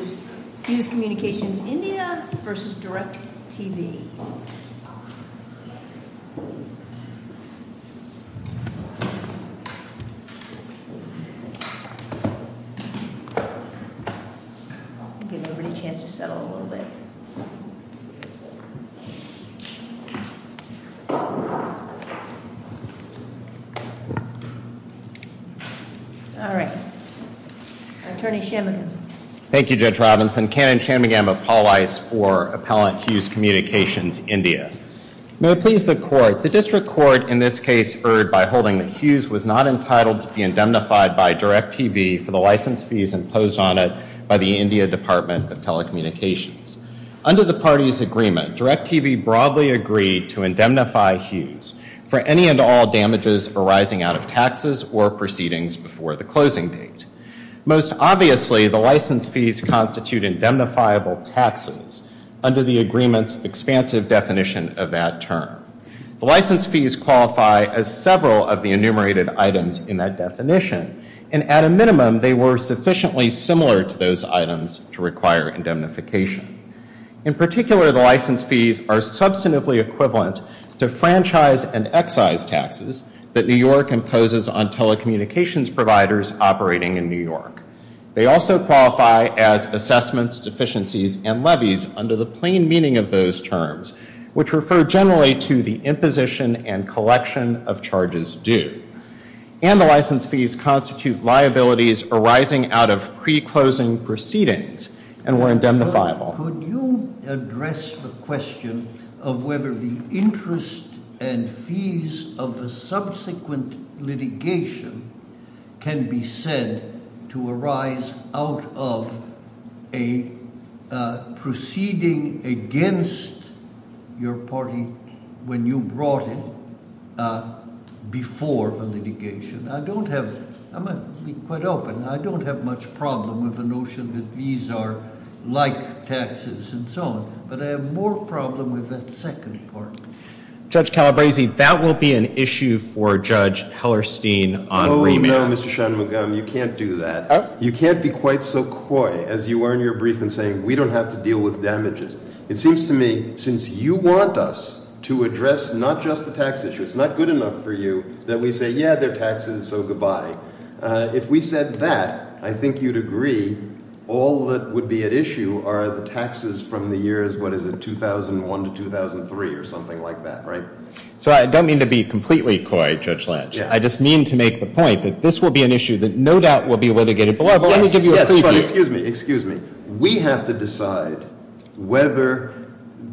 I'll give everybody a chance to settle in a little bit. All right, Attorney Shanmugam. Thank you, Judge Robinson. Canon Shanmugam of Paul Weiss for Appellant Hughes Communications India. May it please the Court. The District Court in this case erred by holding that Hughes was not entitled to be indemnified by DirecTV for the license fees imposed on it by the India Department of Telecommunications. Under the party's agreement, DirecTV broadly agreed to indemnify Hughes for any and all damages arising out of taxes or proceedings before the closing date. Most obviously, the license fees constitute indemnifiable taxes under the agreement's expansive definition of that term. The license fees qualify as several of the enumerated items in that definition, and at a minimum, they were sufficiently similar to those items to require indemnification. In particular, the license fees are substantively equivalent to franchise and excise taxes that New York imposes on telecommunications providers operating in New York. They also qualify as assessments, deficiencies, and levies under the plain meaning of those terms, which refer generally to the imposition and collection of charges due. And the license fees constitute liabilities arising out of pre-closing proceedings and were indemnifiable. Could you address the question of whether the interest and fees of the subsequent litigation can be said to arise out of a proceeding against your party when you brought it before the litigation? I'm going to be quite open. I don't have much problem with the notion that fees are like taxes and so on. But I have more problem with that second part. Judge Calabresi, that will be an issue for Judge Hellerstein on remand. Oh, no, Mr. Shanmugam. You can't do that. You can't be quite so coy as you were in your briefing saying, we don't have to deal with damages. It seems to me, since you want us to address not just the tax issue, it's not good enough for you that we say, yeah, they're taxes, so goodbye. If we said that, I think you'd agree all that would be at issue are the taxes from the years, what is it, 2001 to 2003 or something like that, right? So I don't mean to be completely coy, Judge Lange. I just mean to make the point that this will be an issue that no doubt will be litigated. Excuse me, excuse me. We have to decide whether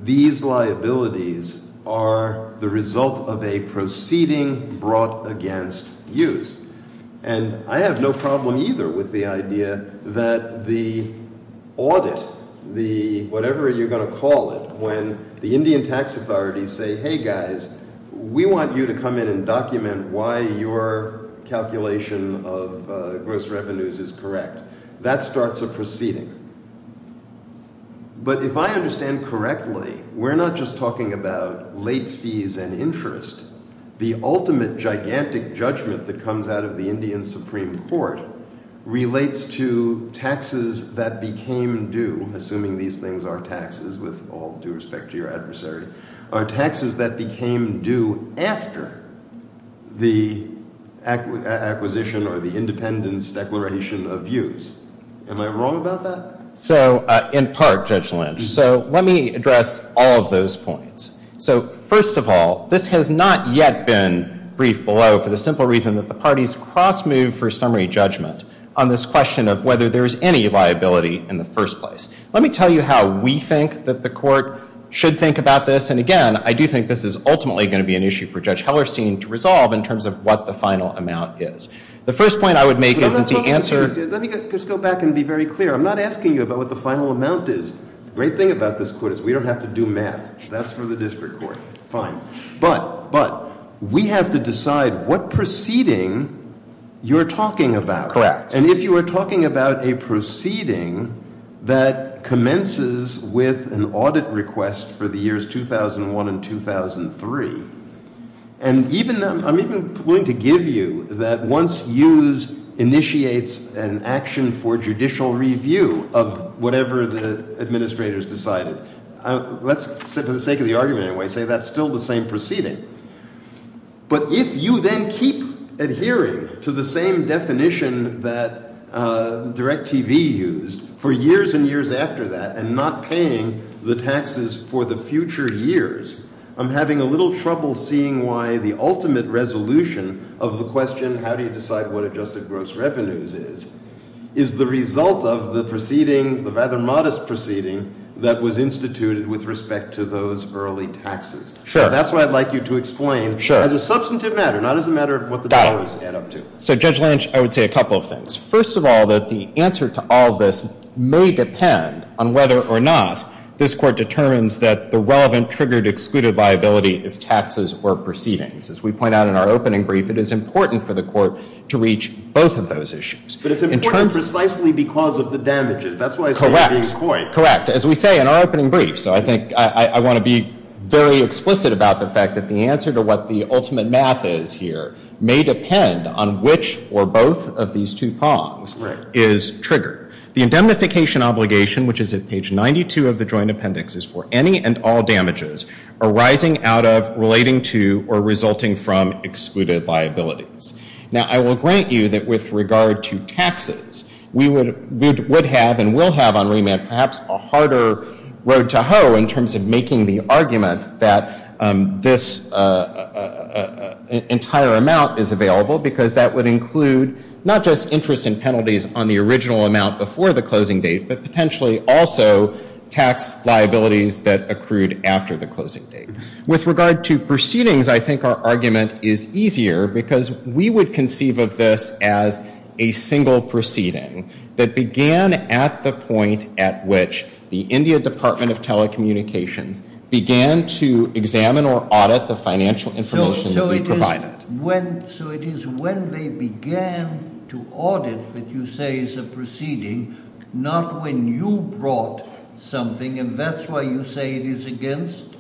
these liabilities are the result of a proceeding brought against you. And I have no problem either with the idea that the audit, the whatever you're going to call it, when the Indian tax authorities say, hey guys, we want you to come in and document why your calculation of gross revenues is correct. That starts a proceeding. But if I understand correctly, we're not just talking about late fees and interest. The ultimate gigantic judgment that comes out of the Indian Supreme Court relates to taxes that became due, assuming these things are taxes with all due respect to your adversary, are taxes that became due after the acquisition or the independence declaration of views. Am I wrong about that? So, in part, Judge Lange. So let me address all of those points. So first of all, this has not yet been briefed below for the simple reason that the parties cross-moved for summary judgment on this question of whether there is any liability in the first place. Let me tell you how we think that the court should think about this. And again, I do think this is ultimately going to be an issue for Judge Hellerstein to resolve in terms of what the final amount is. The first point I would make is that the answer — Let me just go back and be very clear. I'm not asking you about what the final amount is. The great thing about this court is we don't have to do math. That's for the district court. Fine. But, but, we have to decide what proceeding you're talking about. Correct. And if you are talking about a proceeding that commences with an audit request for the years 2001 and 2003, and even — I'm even willing to give you that once Hughes initiates an action for judicial review of whatever the administrators decided, let's, for the sake of the argument anyway, say that's still the same proceeding. But if you then keep adhering to the same definition that DirecTV used for years and years after that and not paying the taxes for the future years, I'm having a little trouble seeing why the ultimate resolution of the question, how do you decide what adjusted gross revenues is, is the result of the proceeding, the rather modest proceeding, that was instituted with respect to those early taxes. Sure. That's what I'd like you to explain. Sure. As a substantive matter, not as a matter of what the dollars add up to. Got it. So, Judge Lynch, I would say a couple of things. First of all, that the answer to all this may depend on whether or not this court determines that the relevant, triggered, excluded liability is taxes or proceedings. As we point out in our opening brief, it is important for the court to reach both of those issues. But it's important precisely because of the damages. That's why I say it being coy. Correct. Correct. As we say in our opening brief, so I think I want to be very explicit about the fact that the answer to what the ultimate math is here may depend on which or both of these two prongs is triggered. The indemnification obligation, which is at page 92 of the joint appendix, is for any and all damages arising out of, relating to, or resulting from excluded liabilities. Now, I will grant you that with regard to taxes, we would have and will have on remand perhaps a harder road to hoe in terms of making the argument that this entire amount is available because that would include not just interest and penalties on the original amount before the closing date, but potentially also tax liabilities that accrued after the closing date. With regard to proceedings, I think our argument is easier because we would conceive of this as a single proceeding that began at the point at which the India Department of Telecommunications began to examine or audit the financial information that we provided. So it is when they began to audit what you say is a proceeding, not when you brought something, and that's why you say it is against?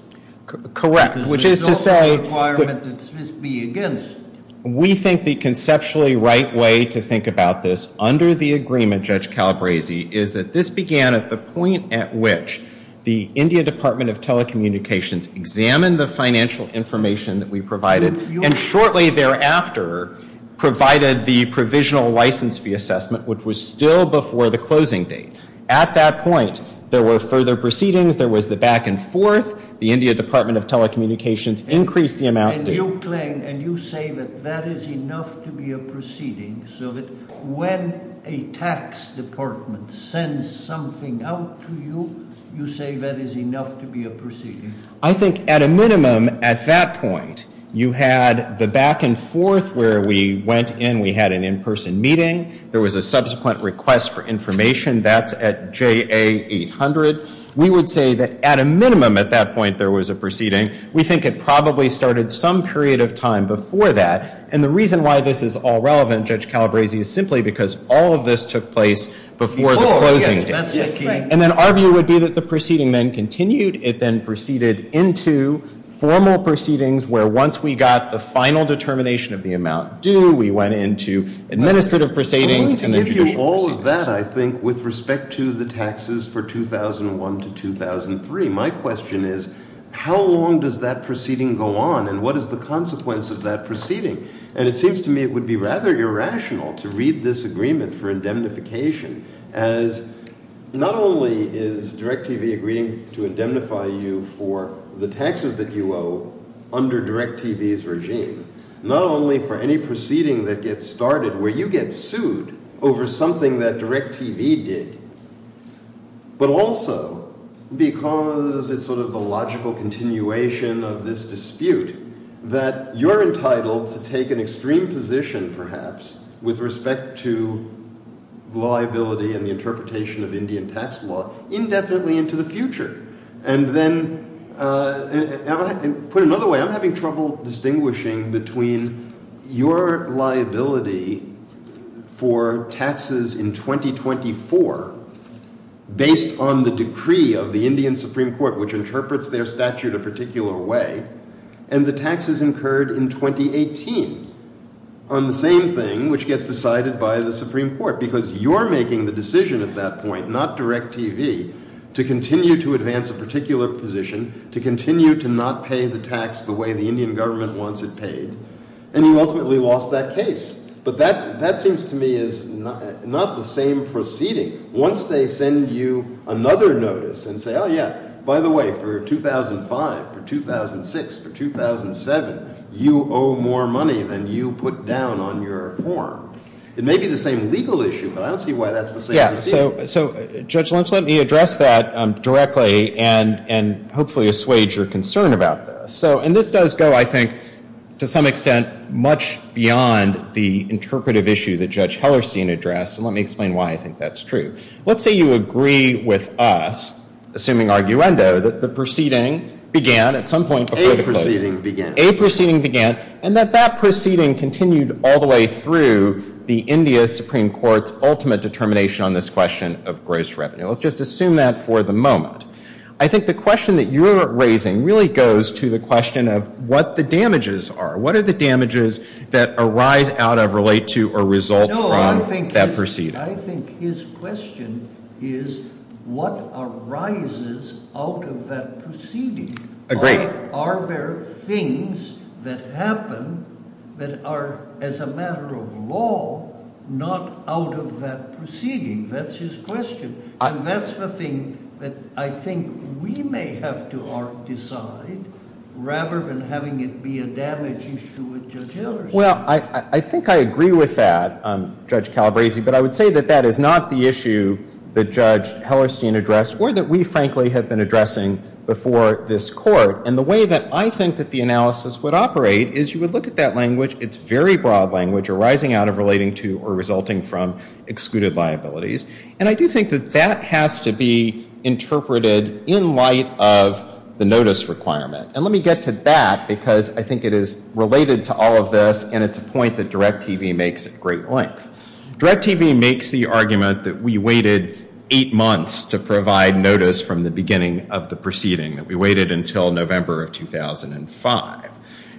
Correct. Because there's no other requirement that this be against. We think the conceptually right way to think about this under the agreement, Judge Calabresi, is that this began at the point at which the India Department of Telecommunications examined the financial information that we provided and shortly thereafter provided the provisional license fee assessment, which was still before the closing date. At that point, there were further proceedings. There was the back and forth. The India Department of Telecommunications increased the amount. And you claim and you say that that is enough to be a proceeding, so that when a tax department sends something out to you, you say that is enough to be a proceeding. I think at a minimum at that point, you had the back and forth where we went in. We had an in-person meeting. There was a subsequent request for information. That's at JA 800. We would say that at a minimum at that point there was a proceeding. We think it probably started some period of time before that. And the reason why this is all relevant, Judge Calabresi, is simply because all of this took place before the closing date. And then our view would be that the proceeding then continued. It then proceeded into formal proceedings where once we got the final determination of the amount due, we went into administrative proceedings and then judicial proceedings. And because of that, I think, with respect to the taxes for 2001 to 2003, my question is how long does that proceeding go on and what is the consequence of that proceeding? And it seems to me it would be rather irrational to read this agreement for indemnification as not only is DirecTV agreeing to indemnify you for the taxes that you owe under DirecTV's regime, not only for any proceeding that gets started where you get sued over something that DirecTV did, but also because it's sort of a logical continuation of this dispute that you're entitled to take an extreme position, perhaps, with respect to liability and the interpretation of Indian tax law indefinitely into the future. And then, put another way, I'm having trouble distinguishing between your liability for taxes in 2024 based on the decree of the Indian Supreme Court which interprets their statute a particular way and the taxes incurred in 2018 on the same thing which gets decided by the Supreme Court because you're making the decision at that point, not DirecTV, to continue to advance a particular position, to continue to not pay the tax the way the Indian government wants it paid, and you ultimately lost that case. But that seems to me is not the same proceeding. Once they send you another notice and say, oh, yeah, by the way, for 2005, for 2006, for 2007, you owe more money than you put down on your form. It may be the same legal issue, but I don't see why that's the same. Yeah, so, Judge Lynch, let me address that directly and hopefully assuage your concern about this. So, and this does go, I think, to some extent, much beyond the interpretive issue that Judge Hellerstein addressed, and let me explain why I think that's true. Let's say you agree with us, assuming arguendo, that the proceeding began at some point before the closing. A proceeding began. A proceeding began, and that that proceeding continued all the way through the India Supreme Court's ultimate determination on this question of gross revenue. Let's just assume that for the moment. I think the question that you're raising really goes to the question of what the damages are. What are the damages that arise out of, relate to, or result from that proceeding? No, I think his question is what arises out of that proceeding. Agreed. Are there things that happen that are, as a matter of law, not out of that proceeding? That's his question. And that's the thing that I think we may have to decide rather than having it be a damage issue with Judge Hellerstein. Well, I think I agree with that, Judge Calabresi, but I would say that that is not the issue that Judge Hellerstein addressed or that we, frankly, have been addressing before this Court. And the way that I think that the analysis would operate is you would look at that language. It's very broad language arising out of, relating to, or resulting from excluded liabilities. And I do think that that has to be interpreted in light of the notice requirement. And let me get to that because I think it is related to all of this, and it's a point that DirecTV makes at great length. DirecTV makes the argument that we waited eight months to provide notice from the beginning of the proceeding, that we waited until November of 2005.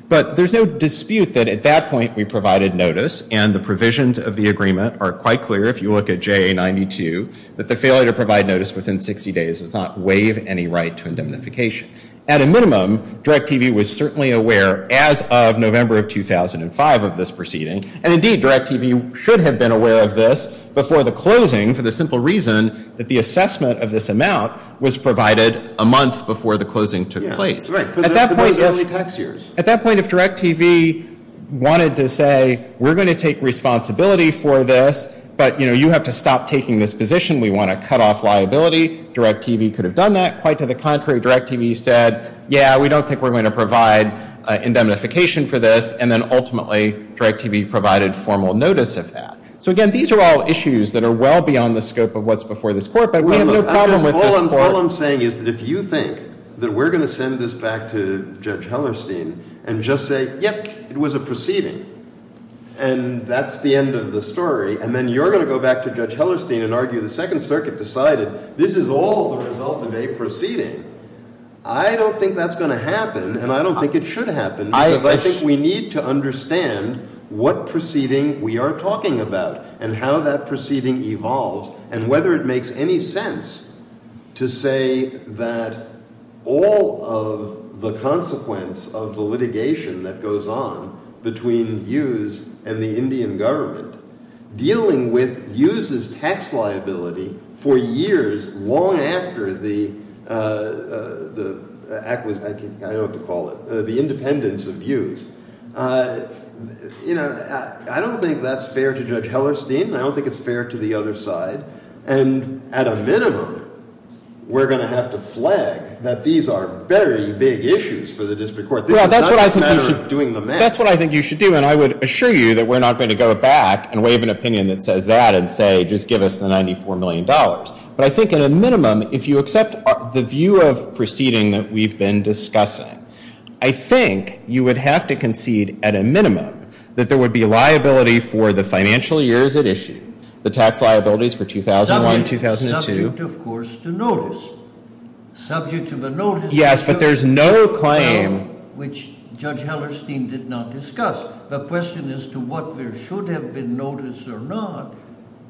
But there's no dispute that at that point we provided notice, and the provisions of the agreement are quite clear if you look at JA92, that the failure to provide notice within 60 days does not waive any right to indemnification. At a minimum, DirecTV was certainly aware as of November of 2005 of this proceeding, and indeed, DirecTV should have been aware of this before the closing for the simple reason that the assessment of this amount was provided a month before the closing took place. At that point, if DirecTV wanted to say, we're going to take responsibility for this, but you have to stop taking this position, we want to cut off liability, DirecTV could have done that. Quite to the contrary, DirecTV said, yeah, we don't think we're going to provide indemnification for this, and then ultimately, DirecTV provided formal notice of that. So again, these are all issues that are well beyond the scope of what's before this Court, but we have no problem with this Court. All I'm saying is that if you think that we're going to send this back to Judge Hellerstein and just say, yep, it was a proceeding, and that's the end of the story, and then you're going to go back to Judge Hellerstein and argue the Second Circuit decided this is all the result of a proceeding. I don't think that's going to happen, and I don't think it should happen, because I think we need to understand what proceeding we are talking about and how that proceeding evolves and whether it makes any sense to say that all of the consequence of the litigation that goes on between Hughes and the Indian government, dealing with Hughes's tax liability for years long after the acquisition, I don't know what to call it, the independence of Hughes. I don't think that's fair to Judge Hellerstein. I don't think it's fair to the other side, and at a minimum, we're going to have to flag that these are very big issues for the District Court. This is not a matter of doing the math. That's what I think you should do, and I would assure you that we're not going to go back and waive an opinion that says that and say, just give us the $94 million. But I think at a minimum, if you accept the view of proceeding that we've been discussing, I think you would have to concede at a minimum that there would be liability for the financial years at issue, the tax liabilities for 2001, 2002. Subject, of course, to notice. Subject to the notice. Yes, but there's no claim. Which Judge Hellerstein did not discuss. The question as to what there should have been notice or not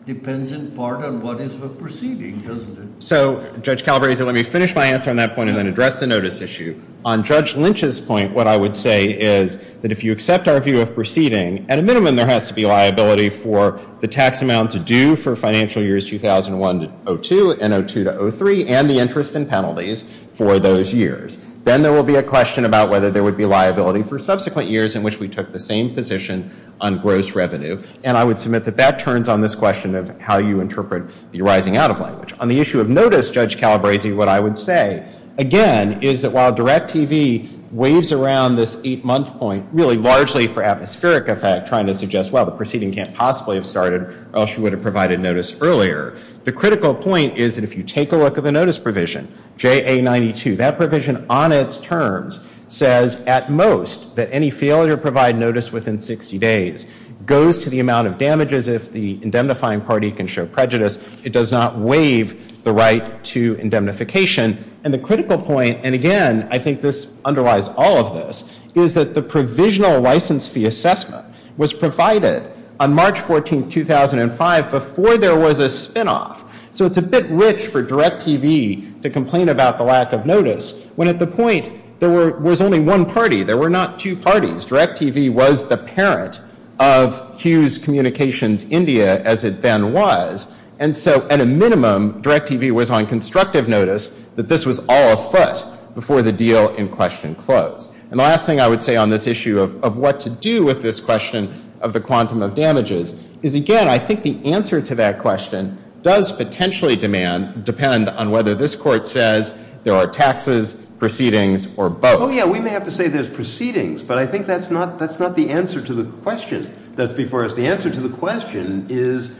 depends in part on what is the proceeding, doesn't it? So, Judge Calabresi, let me finish my answer on that point and then address the notice issue. On Judge Lynch's point, what I would say is that if you accept our view of proceeding, at a minimum there has to be liability for the tax amount to do for financial years 2001 to 02 and 02 to 03 and the interest and penalties for those years. Then there will be a question about whether there would be liability for subsequent years in which we took the same position on gross revenue, and I would submit that that turns on this question of how you interpret the rising out of language. On the issue of notice, Judge Calabresi, what I would say, again, is that while DIRECTV waves around this eight-month point really largely for atmospheric effect trying to suggest, well, the proceeding can't possibly have started or else you would have provided notice earlier. The critical point is that if you take a look at the notice provision, JA92, that provision on its terms says at most that any failure to provide notice within 60 days goes to the amount of damages if the indemnifying party can show prejudice. It does not waive the right to indemnification. And the critical point, and again, I think this underlies all of this, is that the provisional license fee assessment was provided on March 14, 2005 before there was a spinoff. So it's a bit rich for DIRECTV to complain about the lack of notice when at the point there was only one party. There were not two parties. DIRECTV was the parent of Hughes Communications India as it then was. And so at a minimum, DIRECTV was on constructive notice that this was all afoot before the deal in question closed. And the last thing I would say on this issue of what to do with this question of the quantum of damages is, again, I think the answer to that question does potentially depend on whether this court says there are taxes, proceedings, or both. Oh, yeah, we may have to say there's proceedings, but I think that's not the answer to the question that's before us. The answer to the question is,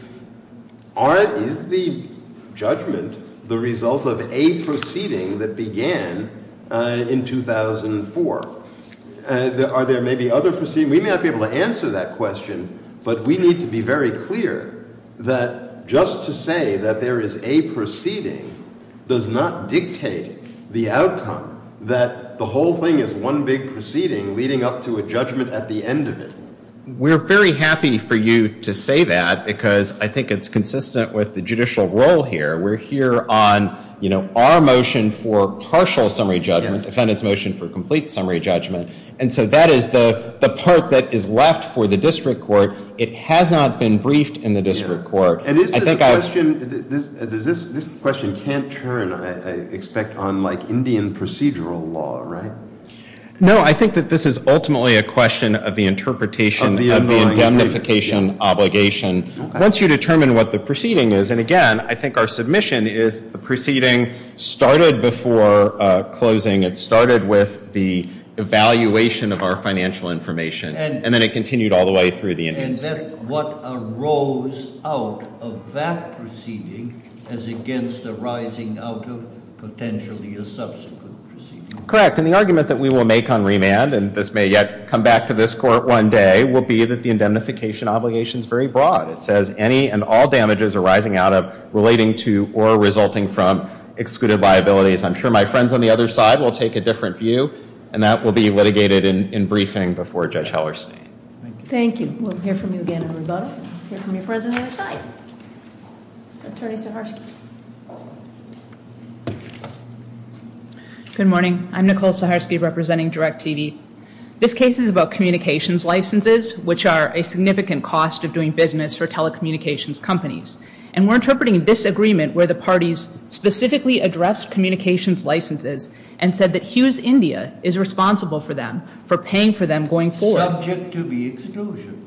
is the judgment the result of a proceeding that began in 2004? Are there maybe other proceedings? We may not be able to answer that question, but we need to be very clear that just to say that there is a proceeding does not dictate the outcome that the whole thing is one big proceeding leading up to a judgment at the end of it. We're very happy for you to say that because I think it's consistent with the judicial role here. We're here on our motion for partial summary judgment, defendant's motion for complete summary judgment. And so that is the part that is left for the district court. It has not been briefed in the district court. This question can't turn, I expect, on Indian procedural law, right? No, I think that this is ultimately a question of the interpretation of the indemnification obligation. Once you determine what the proceeding is, and again, I think our submission is the proceeding started before closing. It started with the evaluation of our financial information, and then it continued all the way through the Indian state. And then what arose out of that proceeding is against the rising out of potentially a subsequent proceeding. Correct, and the argument that we will make on remand, and this may yet come back to this court one day, will be that the indemnification obligation is very broad. It says any and all damages arising out of, relating to, or resulting from excluded liabilities. I'm sure my friends on the other side will take a different view, and that will be litigated in briefing before Judge Hellerstein. Thank you. Thank you. We'll hear from you again, everybody. We'll hear from your friends on the other side. Attorney Saharsky. Good morning. I'm Nicole Saharsky representing DIRECTV. This case is about communications licenses, which are a significant cost of doing business for telecommunications companies. And we're interpreting this agreement where the parties specifically addressed communications licenses and said that Hughes India is responsible for them, subject to the exclusion.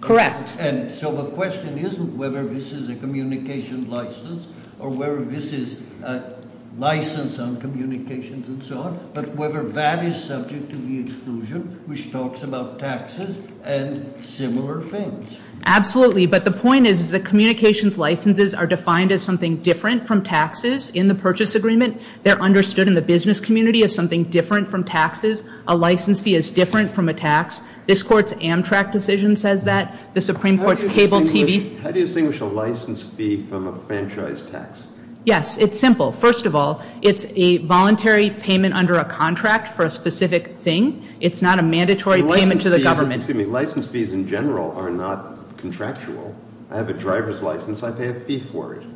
Correct. And so the question isn't whether this is a communications license, or whether this is a license on communications and so on, but whether that is subject to the exclusion, which talks about taxes and similar things. Absolutely, but the point is, is that communications licenses are defined as something different from taxes in the purchase agreement. They're understood in the business community as something different from taxes. A license fee is different from a tax. This Court's Amtrak decision says that. The Supreme Court's Cable TV. How do you distinguish a license fee from a franchise tax? Yes, it's simple. First of all, it's a voluntary payment under a contract for a specific thing. It's not a mandatory payment to the government. License fees in general are not contractual. I have a driver's license. I pay a fee for it.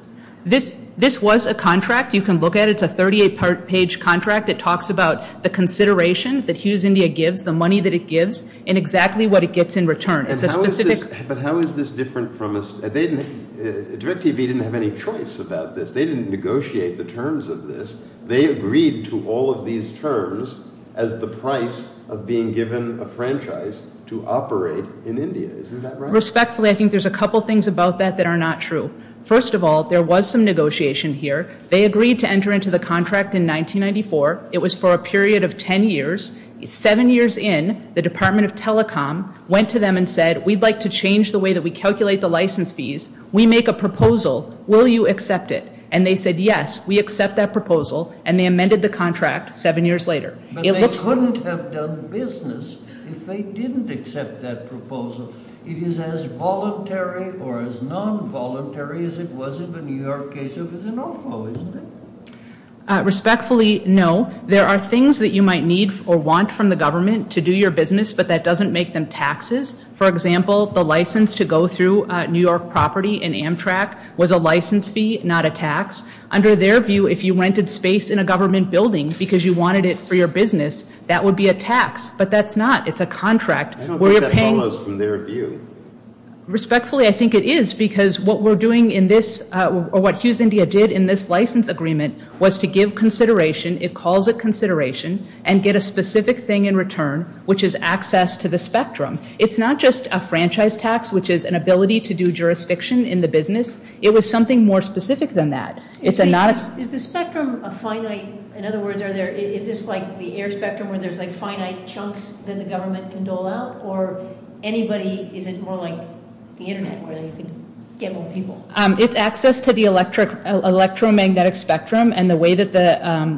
This was a contract. You can look at it. It's a 38-page contract. It talks about the consideration that Hughes India gives, the money that it gives, and exactly what it gets in return. But how is this different from a state? DirecTV didn't have any choice about this. They didn't negotiate the terms of this. They agreed to all of these terms as the price of being given a franchise to operate in India. Isn't that right? Respectfully, I think there's a couple things about that that are not true. First of all, there was some negotiation here. They agreed to enter into the contract in 1994. It was for a period of ten years. Seven years in, the Department of Telecom went to them and said, we'd like to change the way that we calculate the license fees. We make a proposal. Will you accept it? And they said, yes, we accept that proposal, and they amended the contract seven years later. But they couldn't have done business if they didn't accept that proposal. It is as voluntary or as nonvoluntary as it was in the New York case if it's a no-fault, isn't it? Respectfully, no. There are things that you might need or want from the government to do your business, but that doesn't make them taxes. For example, the license to go through New York property in Amtrak was a license fee, not a tax. Under their view, if you rented space in a government building because you wanted it for your business, that would be a tax. But that's not. It's a contract. I don't think that follows from their view. Respectfully, I think it is because what we're doing in this or what Hughes India did in this license agreement was to give consideration. It calls it consideration and get a specific thing in return, which is access to the spectrum. It's not just a franchise tax, which is an ability to do jurisdiction in the business. It was something more specific than that. Is the spectrum a finite? In other words, is this like the air spectrum where there's like finite chunks that the government can dole out or is it more like the Internet where you can get more people? It's access to the electromagnetic spectrum, and the way that the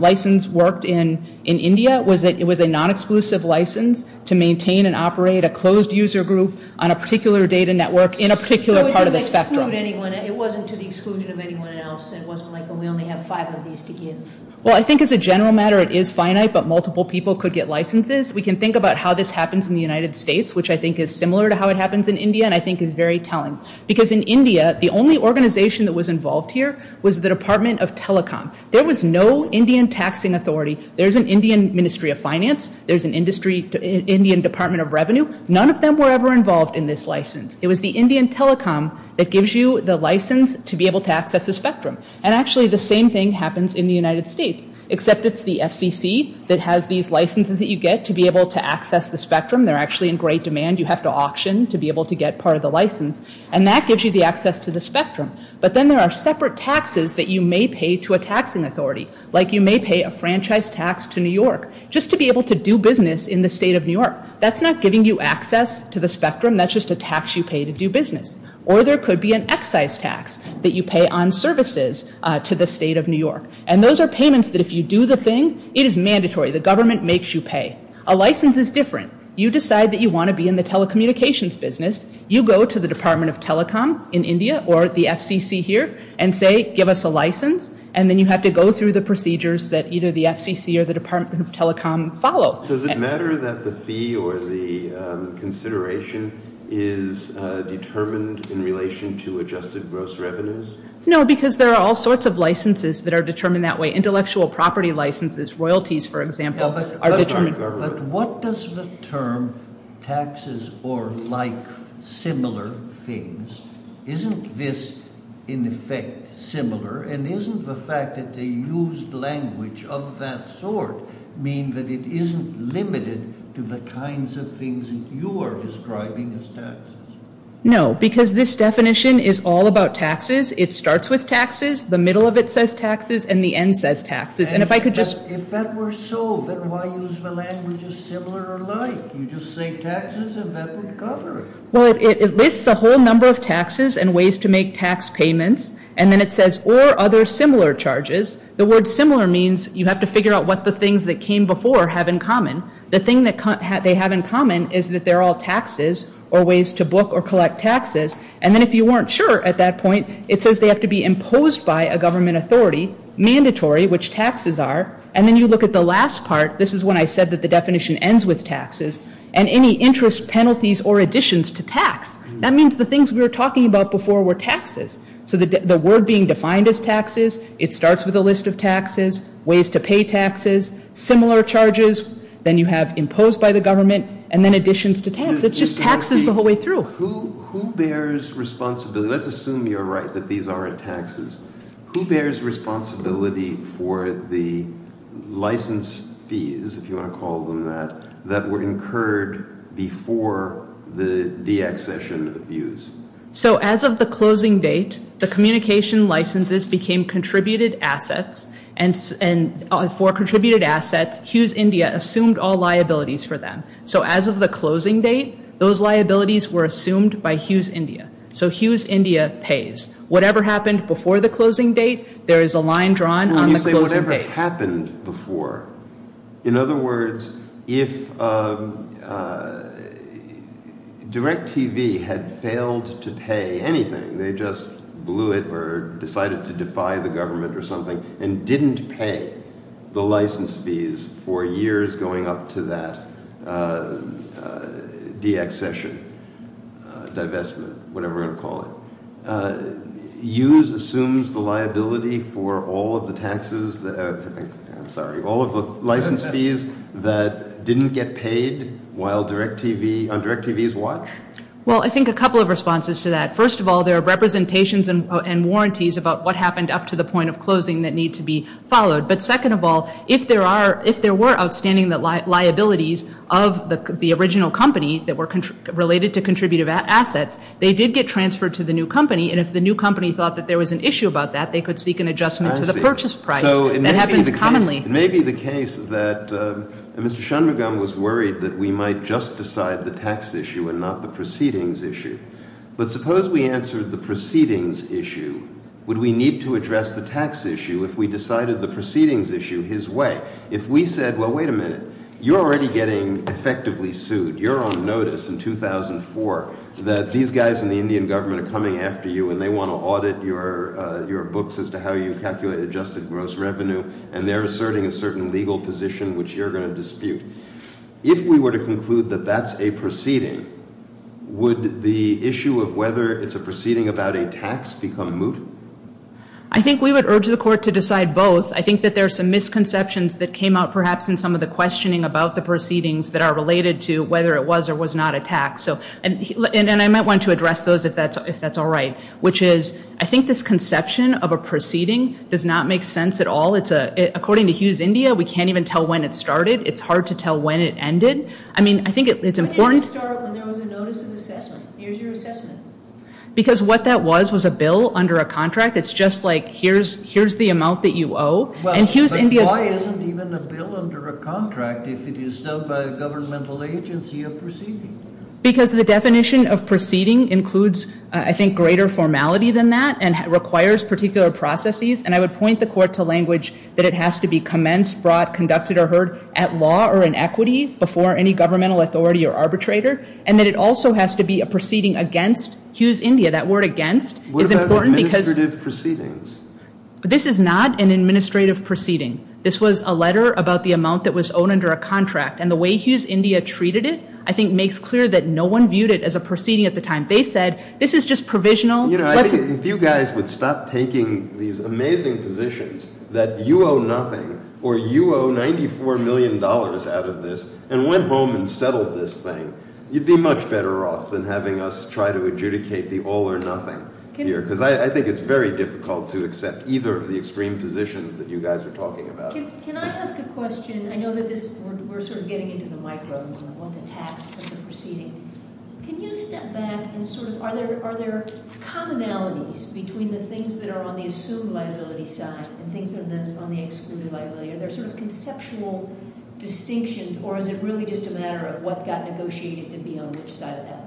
license worked in India was that it was a non-exclusive license to maintain and operate a closed user group on a particular data network in a particular part of the spectrum. So it didn't exclude anyone. It wasn't to the exclusion of anyone else. It wasn't like we only have five of these to give. Well, I think as a general matter, it is finite, but multiple people could get licenses. We can think about how this happens in the United States, which I think is similar to how it happens in India and I think is very telling. Because in India, the only organization that was involved here was the Department of Telecom. There was no Indian taxing authority. There's an Indian Ministry of Finance. There's an Indian Department of Revenue. None of them were ever involved in this license. It was the Indian Telecom that gives you the license to be able to access the spectrum. And actually, the same thing happens in the United States, except it's the FCC that has these licenses that you get to be able to access the spectrum. They're actually in great demand. You have to auction to be able to get part of the license. And that gives you the access to the spectrum. But then there are separate taxes that you may pay to a taxing authority, like you may pay a franchise tax to New York just to be able to do business in the state of New York. That's not giving you access to the spectrum. That's just a tax you pay to do business. Or there could be an excise tax that you pay on services to the state of New York. And those are payments that if you do the thing, it is mandatory. The government makes you pay. A license is different. You decide that you want to be in the telecommunications business. You go to the Department of Telecom in India or the FCC here and say, give us a license, and then you have to go through the procedures that either the FCC or the Department of Telecom follow. Does it matter that the fee or the consideration is determined in relation to adjusted gross revenues? No, because there are all sorts of licenses that are determined that way. Intellectual property licenses, royalties, for example, are determined. But what does the term taxes or like similar things, isn't this in effect similar? And isn't the fact that they used language of that sort mean that it isn't limited to the kinds of things that you are describing as taxes? No, because this definition is all about taxes. It starts with taxes. The middle of it says taxes. And the end says taxes. And if I could just- If that were so, then why use the language of similar or like? You just say taxes, and that would cover it. Well, it lists a whole number of taxes and ways to make tax payments. And then it says or other similar charges. The word similar means you have to figure out what the things that came before have in common. The thing that they have in common is that they're all taxes or ways to book or collect taxes. And then if you weren't sure at that point, it says they have to be imposed by a government authority, mandatory, which taxes are. And then you look at the last part. This is when I said that the definition ends with taxes. And any interest, penalties, or additions to tax. That means the things we were talking about before were taxes. So the word being defined as taxes, it starts with a list of taxes, ways to pay taxes, similar charges. Then you have imposed by the government, and then additions to tax. It just taxes the whole way through. Who bears responsibility? Let's assume you're right that these aren't taxes. Who bears responsibility for the license fees, if you want to call them that, that were incurred before the deaccession abuse? So as of the closing date, the communication licenses became contributed assets. And for contributed assets, Hughes India assumed all liabilities for them. So as of the closing date, those liabilities were assumed by Hughes India. So Hughes India pays. Whatever happened before the closing date, there is a line drawn on the closing date. In other words, if DirecTV had failed to pay anything, they just blew it or decided to defy the government or something, and didn't pay the license fees for years going up to that deaccession, divestment, whatever you want to call it. Hughes assumes the liability for all of the taxes, I'm sorry, all of the license fees that didn't get paid on DirecTV's watch? Well, I think a couple of responses to that. First of all, there are representations and warranties about what happened up to the point of closing that need to be followed. But second of all, if there were outstanding liabilities of the original company that were related to contributive assets, they did get transferred to the new company. And if the new company thought that there was an issue about that, they could seek an adjustment to the purchase price. That happens commonly. It may be the case that Mr. Shanmugam was worried that we might just decide the tax issue and not the proceedings issue. But suppose we answered the proceedings issue. Would we need to address the tax issue if we decided the proceedings issue his way? If we said, well, wait a minute, you're already getting effectively sued. You're on notice in 2004 that these guys in the Indian government are coming after you and they want to audit your books as to how you calculate adjusted gross revenue. And they're asserting a certain legal position which you're going to dispute. If we were to conclude that that's a proceeding, would the issue of whether it's a proceeding about a tax become moot? I think we would urge the court to decide both. I think that there are some misconceptions that came out perhaps in some of the questioning about the proceedings that are related to whether it was or was not a tax. And I might want to address those if that's all right, which is I think this conception of a proceeding does not make sense at all. According to Hughes India, we can't even tell when it started. It's hard to tell when it ended. I mean, I think it's important. Why didn't it start when there was a notice of assessment? Here's your assessment. Because what that was was a bill under a contract. It's just like here's the amount that you owe. But why isn't even a bill under a contract if it is done by a governmental agency of proceeding? Because the definition of proceeding includes, I think, greater formality than that and requires particular processes. And I would point the court to language that it has to be commenced, brought, conducted, or heard at law or in equity before any governmental authority or arbitrator. And that it also has to be a proceeding against Hughes India. That word against is important because. What about administrative proceedings? This is not an administrative proceeding. This was a letter about the amount that was owed under a contract. And the way Hughes India treated it, I think, makes clear that no one viewed it as a proceeding at the time. They said, this is just provisional. If you guys would stop taking these amazing positions that you owe nothing or you owe $94 million out of this and went home and settled this thing, you'd be much better off than having us try to adjudicate the all or nothing here. because I think it's very difficult to accept either of the extreme positions that you guys are talking about. Can I ask a question? I know that this, we're sort of getting into the micro one. I want to tap at the proceeding. Can you step back and sort of, are there commonalities between the things that are on the assumed liability side and things that are on the excluded liability? Are there sort of conceptual distinctions? Or is it really just a matter of what got negotiated to be on which side of that line?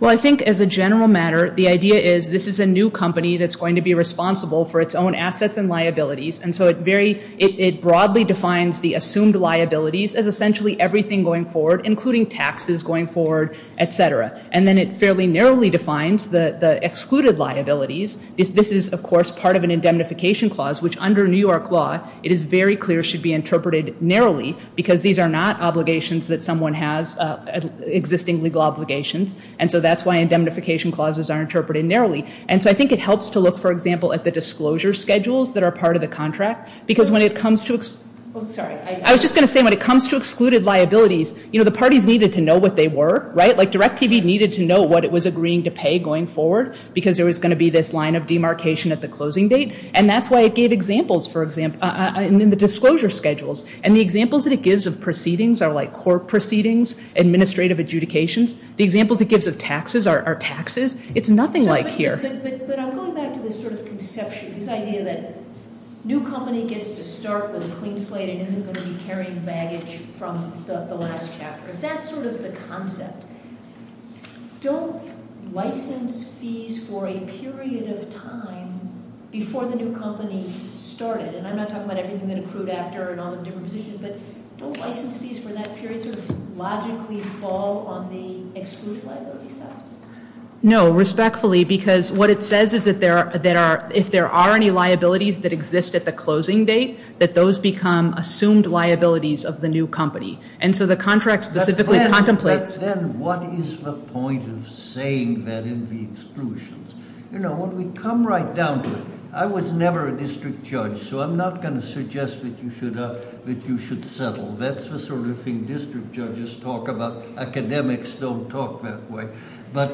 Well, I think as a general matter, the idea is this is a new company that's going to be responsible for its own assets and liabilities. And so it broadly defines the assumed liabilities as essentially everything going forward, including taxes going forward, et cetera. And then it fairly narrowly defines the excluded liabilities. This is, of course, part of an indemnification clause, which under New York law, it is very clear should be interpreted narrowly because these are not obligations that someone has, existing legal obligations. And so that's why indemnification clauses are interpreted narrowly. And so I think it helps to look, for example, at the disclosure schedules that are part of the contract because when it comes to, I'm sorry, I was just going to say when it comes to excluded liabilities, you know, the parties needed to know what they were, right? Like DirecTV needed to know what it was agreeing to pay going forward because there was going to be this line of demarcation at the closing date. And that's why it gave examples, for example, in the disclosure schedules. And the examples that it gives of proceedings are like court proceedings, administrative adjudications. The examples it gives of taxes are taxes. It's nothing like here. But I'm going back to this sort of conception, this idea that new company gets to start with a clean slate and isn't going to be carrying baggage from the last chapter. If that's sort of the concept, don't license fees for a period of time before the new company started? And I'm not talking about everything that accrued after and all the different positions, but don't license fees for that period sort of logically fall on the excluded liability side? No, respectfully, because what it says is that if there are any liabilities that exist at the closing date, that those become assumed liabilities of the new company. And so the contract specifically contemplates... But then what is the point of saying that in the exclusions? You know, when we come right down to it, I was never a district judge, so I'm not going to suggest that you should settle. That's the sort of thing district judges talk about. Academics don't talk that way. But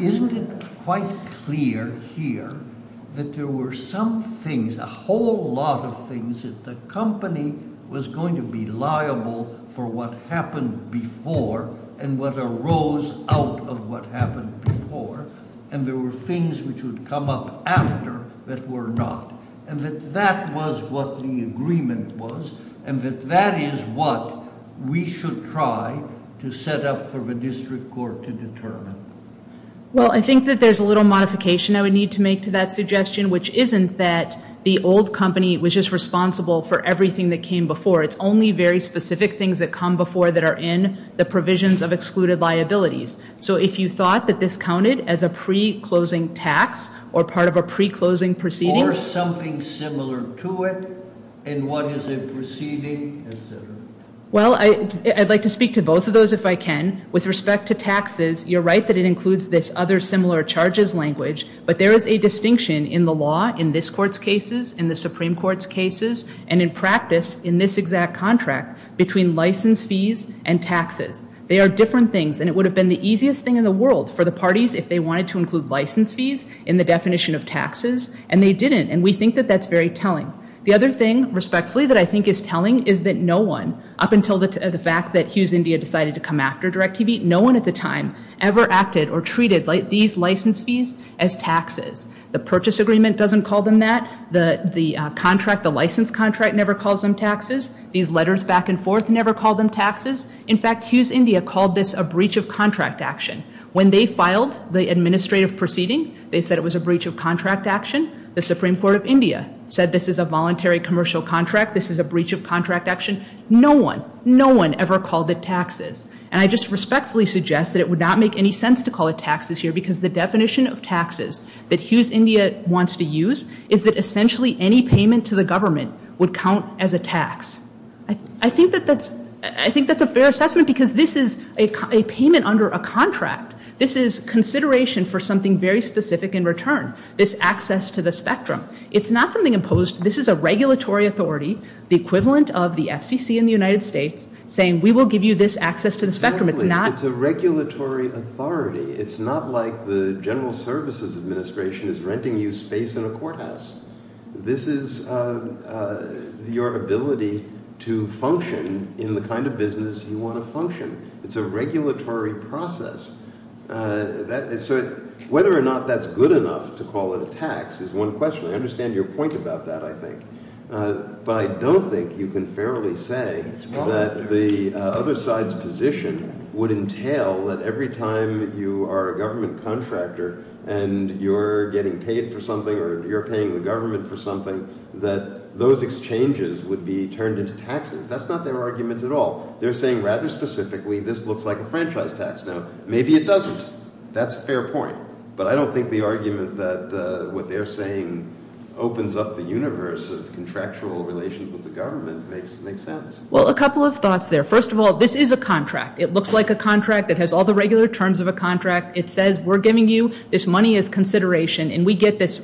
isn't it quite clear here that there were some things, a whole lot of things that the company was going to be liable for what happened before and what arose out of what happened before, and there were things which would come up after that were not, and that that was what the agreement was and that that is what we should try to set up for the district court to determine? Well, I think that there's a little modification I would need to make to that suggestion, which isn't that the old company was just responsible for everything that came before. It's only very specific things that come before that are in the provisions of excluded liabilities. So if you thought that this counted as a pre-closing tax or part of a pre-closing proceeding... Well, I'd like to speak to both of those if I can. With respect to taxes, you're right that it includes this other similar charges language, but there is a distinction in the law in this Court's cases, in the Supreme Court's cases, and in practice in this exact contract between license fees and taxes. They are different things, and it would have been the easiest thing in the world for the parties if they wanted to include license fees in the definition of taxes, and they didn't, and we think that that's very telling. The other thing, respectfully, that I think is telling is that no one, up until the fact that Hughes India decided to come after DirectTV, no one at the time ever acted or treated these license fees as taxes. The purchase agreement doesn't call them that. The contract, the license contract, never calls them taxes. These letters back and forth never call them taxes. In fact, Hughes India called this a breach of contract action. When they filed the administrative proceeding, they said it was a breach of contract action. The Supreme Court of India said this is a voluntary commercial contract. This is a breach of contract action. No one, no one ever called it taxes, and I just respectfully suggest that it would not make any sense to call it taxes here because the definition of taxes that Hughes India wants to use is that essentially any payment to the government would count as a tax. I think that that's a fair assessment because this is a payment under a contract. This is consideration for something very specific in return, this access to the spectrum. It's not something imposed. This is a regulatory authority, the equivalent of the FCC in the United States, saying we will give you this access to the spectrum. It's a regulatory authority. It's not like the General Services Administration is renting you space in a courthouse. This is your ability to function in the kind of business you want to function. It's a regulatory process. So whether or not that's good enough to call it a tax is one question. I understand your point about that, I think, but I don't think you can fairly say that the other side's position would entail that every time you are a government contractor and you're getting paid for something or you're paying the government for something, that those exchanges would be turned into taxes. That's not their argument at all. They're saying rather specifically this looks like a franchise tax. Now, maybe it doesn't. That's a fair point. But I don't think the argument that what they're saying opens up the universe of contractual relations with the government makes sense. Well, a couple of thoughts there. First of all, this is a contract. It looks like a contract. It has all the regular terms of a contract. It says we're giving you this money as consideration, and we get this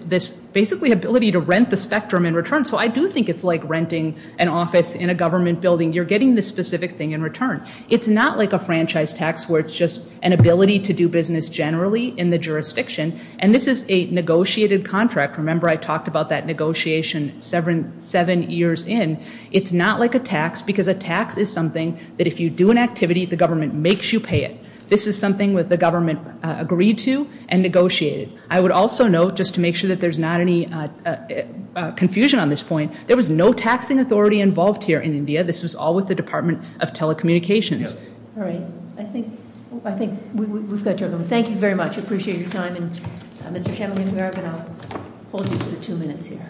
basically ability to rent the spectrum in return. So I do think it's like renting an office in a government building. You're getting this specific thing in return. It's not like a franchise tax where it's just an ability to do business generally in the jurisdiction, and this is a negotiated contract. Remember I talked about that negotiation seven years in. It's not like a tax because a tax is something that if you do an activity, the government makes you pay it. This is something that the government agreed to and negotiated. I would also note, just to make sure that there's not any confusion on this point, there was no taxing authority involved here in India. This was all with the Department of Telecommunications. All right. I think we've got your number. Thank you very much. I appreciate your time. And, Mr. Chamberlain, we are going to hold you for two minutes here.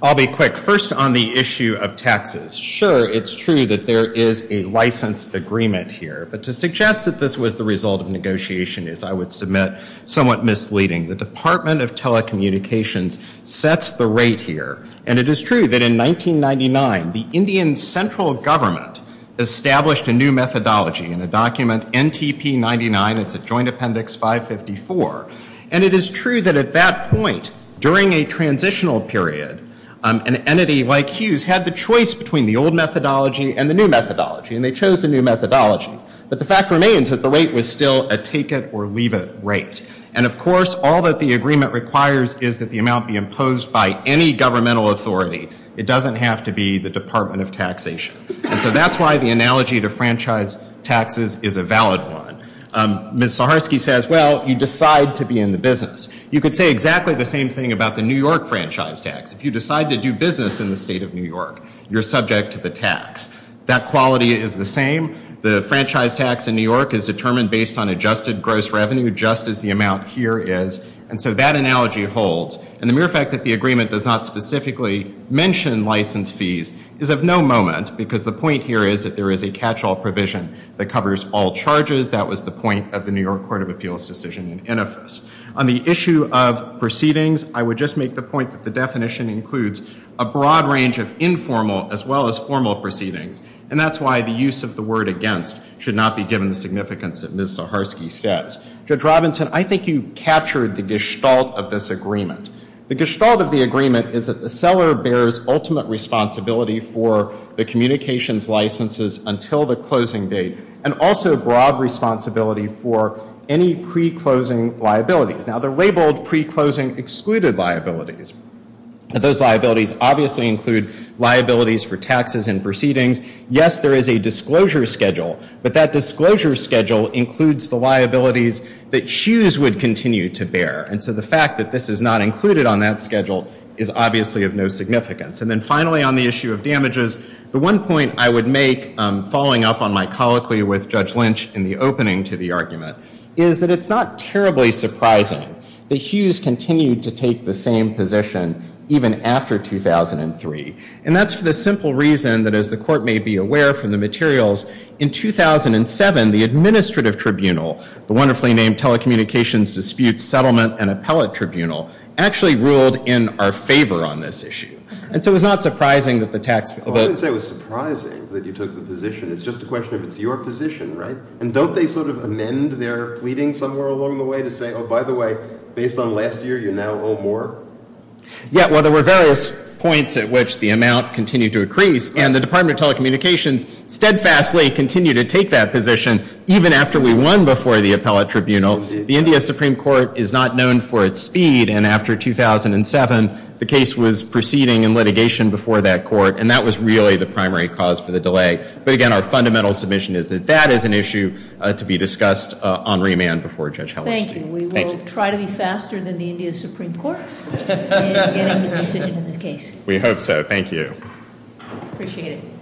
I'll be quick. First, on the issue of taxes. Sure, it's true that there is a license agreement here, but to suggest that this was the result of negotiation is, I would submit, somewhat misleading. The Department of Telecommunications sets the rate here, and it is true that in 1999 the Indian central government established a new methodology in a document NTP-99. It's a joint appendix 554. And it is true that at that point during a transitional period, an entity like Hughes had the choice between the old methodology and the new methodology, and they chose the new methodology. But the fact remains that the rate was still a take it or leave it rate. And, of course, all that the agreement requires is that the amount be imposed by any governmental authority. It doesn't have to be the Department of Taxation. And so that's why the analogy to franchise taxes is a valid one. Ms. Saharsky says, well, you decide to be in the business. You could say exactly the same thing about the New York franchise tax. If you decide to do business in the state of New York, you're subject to the tax. That quality is the same. The franchise tax in New York is determined based on adjusted gross revenue, just as the amount here is. And so that analogy holds. And the mere fact that the agreement does not specifically mention license fees is of no moment because the point here is that there is a catch-all provision that covers all charges. That was the point of the New York Court of Appeals decision in Innofis. On the issue of proceedings, I would just make the point that the definition includes a broad range of informal as well as formal proceedings. And that's why the use of the word against should not be given the significance that Ms. Saharsky says. Judge Robinson, I think you captured the gestalt of this agreement. The gestalt of the agreement is that the seller bears ultimate responsibility for the communications licenses until the closing date and also broad responsibility for any pre-closing liabilities. Now, the labeled pre-closing excluded liabilities, but those liabilities obviously include liabilities for taxes and proceedings. Yes, there is a disclosure schedule, but that disclosure schedule includes the liabilities that Hughes would continue to bear. And so the fact that this is not included on that schedule is obviously of no significance. And then finally, on the issue of damages, the one point I would make following up on my colloquy with Judge Lynch in the opening to the argument is that it's not terribly surprising that Hughes continued to take the same position even after 2003. And that's for the simple reason that, as the Court may be aware from the materials, in 2007, the Administrative Tribunal, the wonderfully named Telecommunications Dispute Settlement and Appellate Tribunal, actually ruled in our favor on this issue. And so it's not surprising that the tax bill... Well, I wouldn't say it was surprising that you took the position. It's just a question of it's your position, right? And don't they sort of amend their pleading somewhere along the way to say, oh, by the way, based on last year, you now owe more? Yeah, well, there were various points at which the amount continued to increase. And the Department of Telecommunications steadfastly continued to take that position even after we won before the Appellate Tribunal. The India Supreme Court is not known for its speed. And after 2007, the case was proceeding in litigation before that court. And that was really the primary cause for the delay. But again, our fundamental submission is that that is an issue to be discussed on remand before Judge Hellerstein. Thank you. We will try to be faster than the India Supreme Court in getting a decision on this case. We hope so. Thank you. Appreciate it.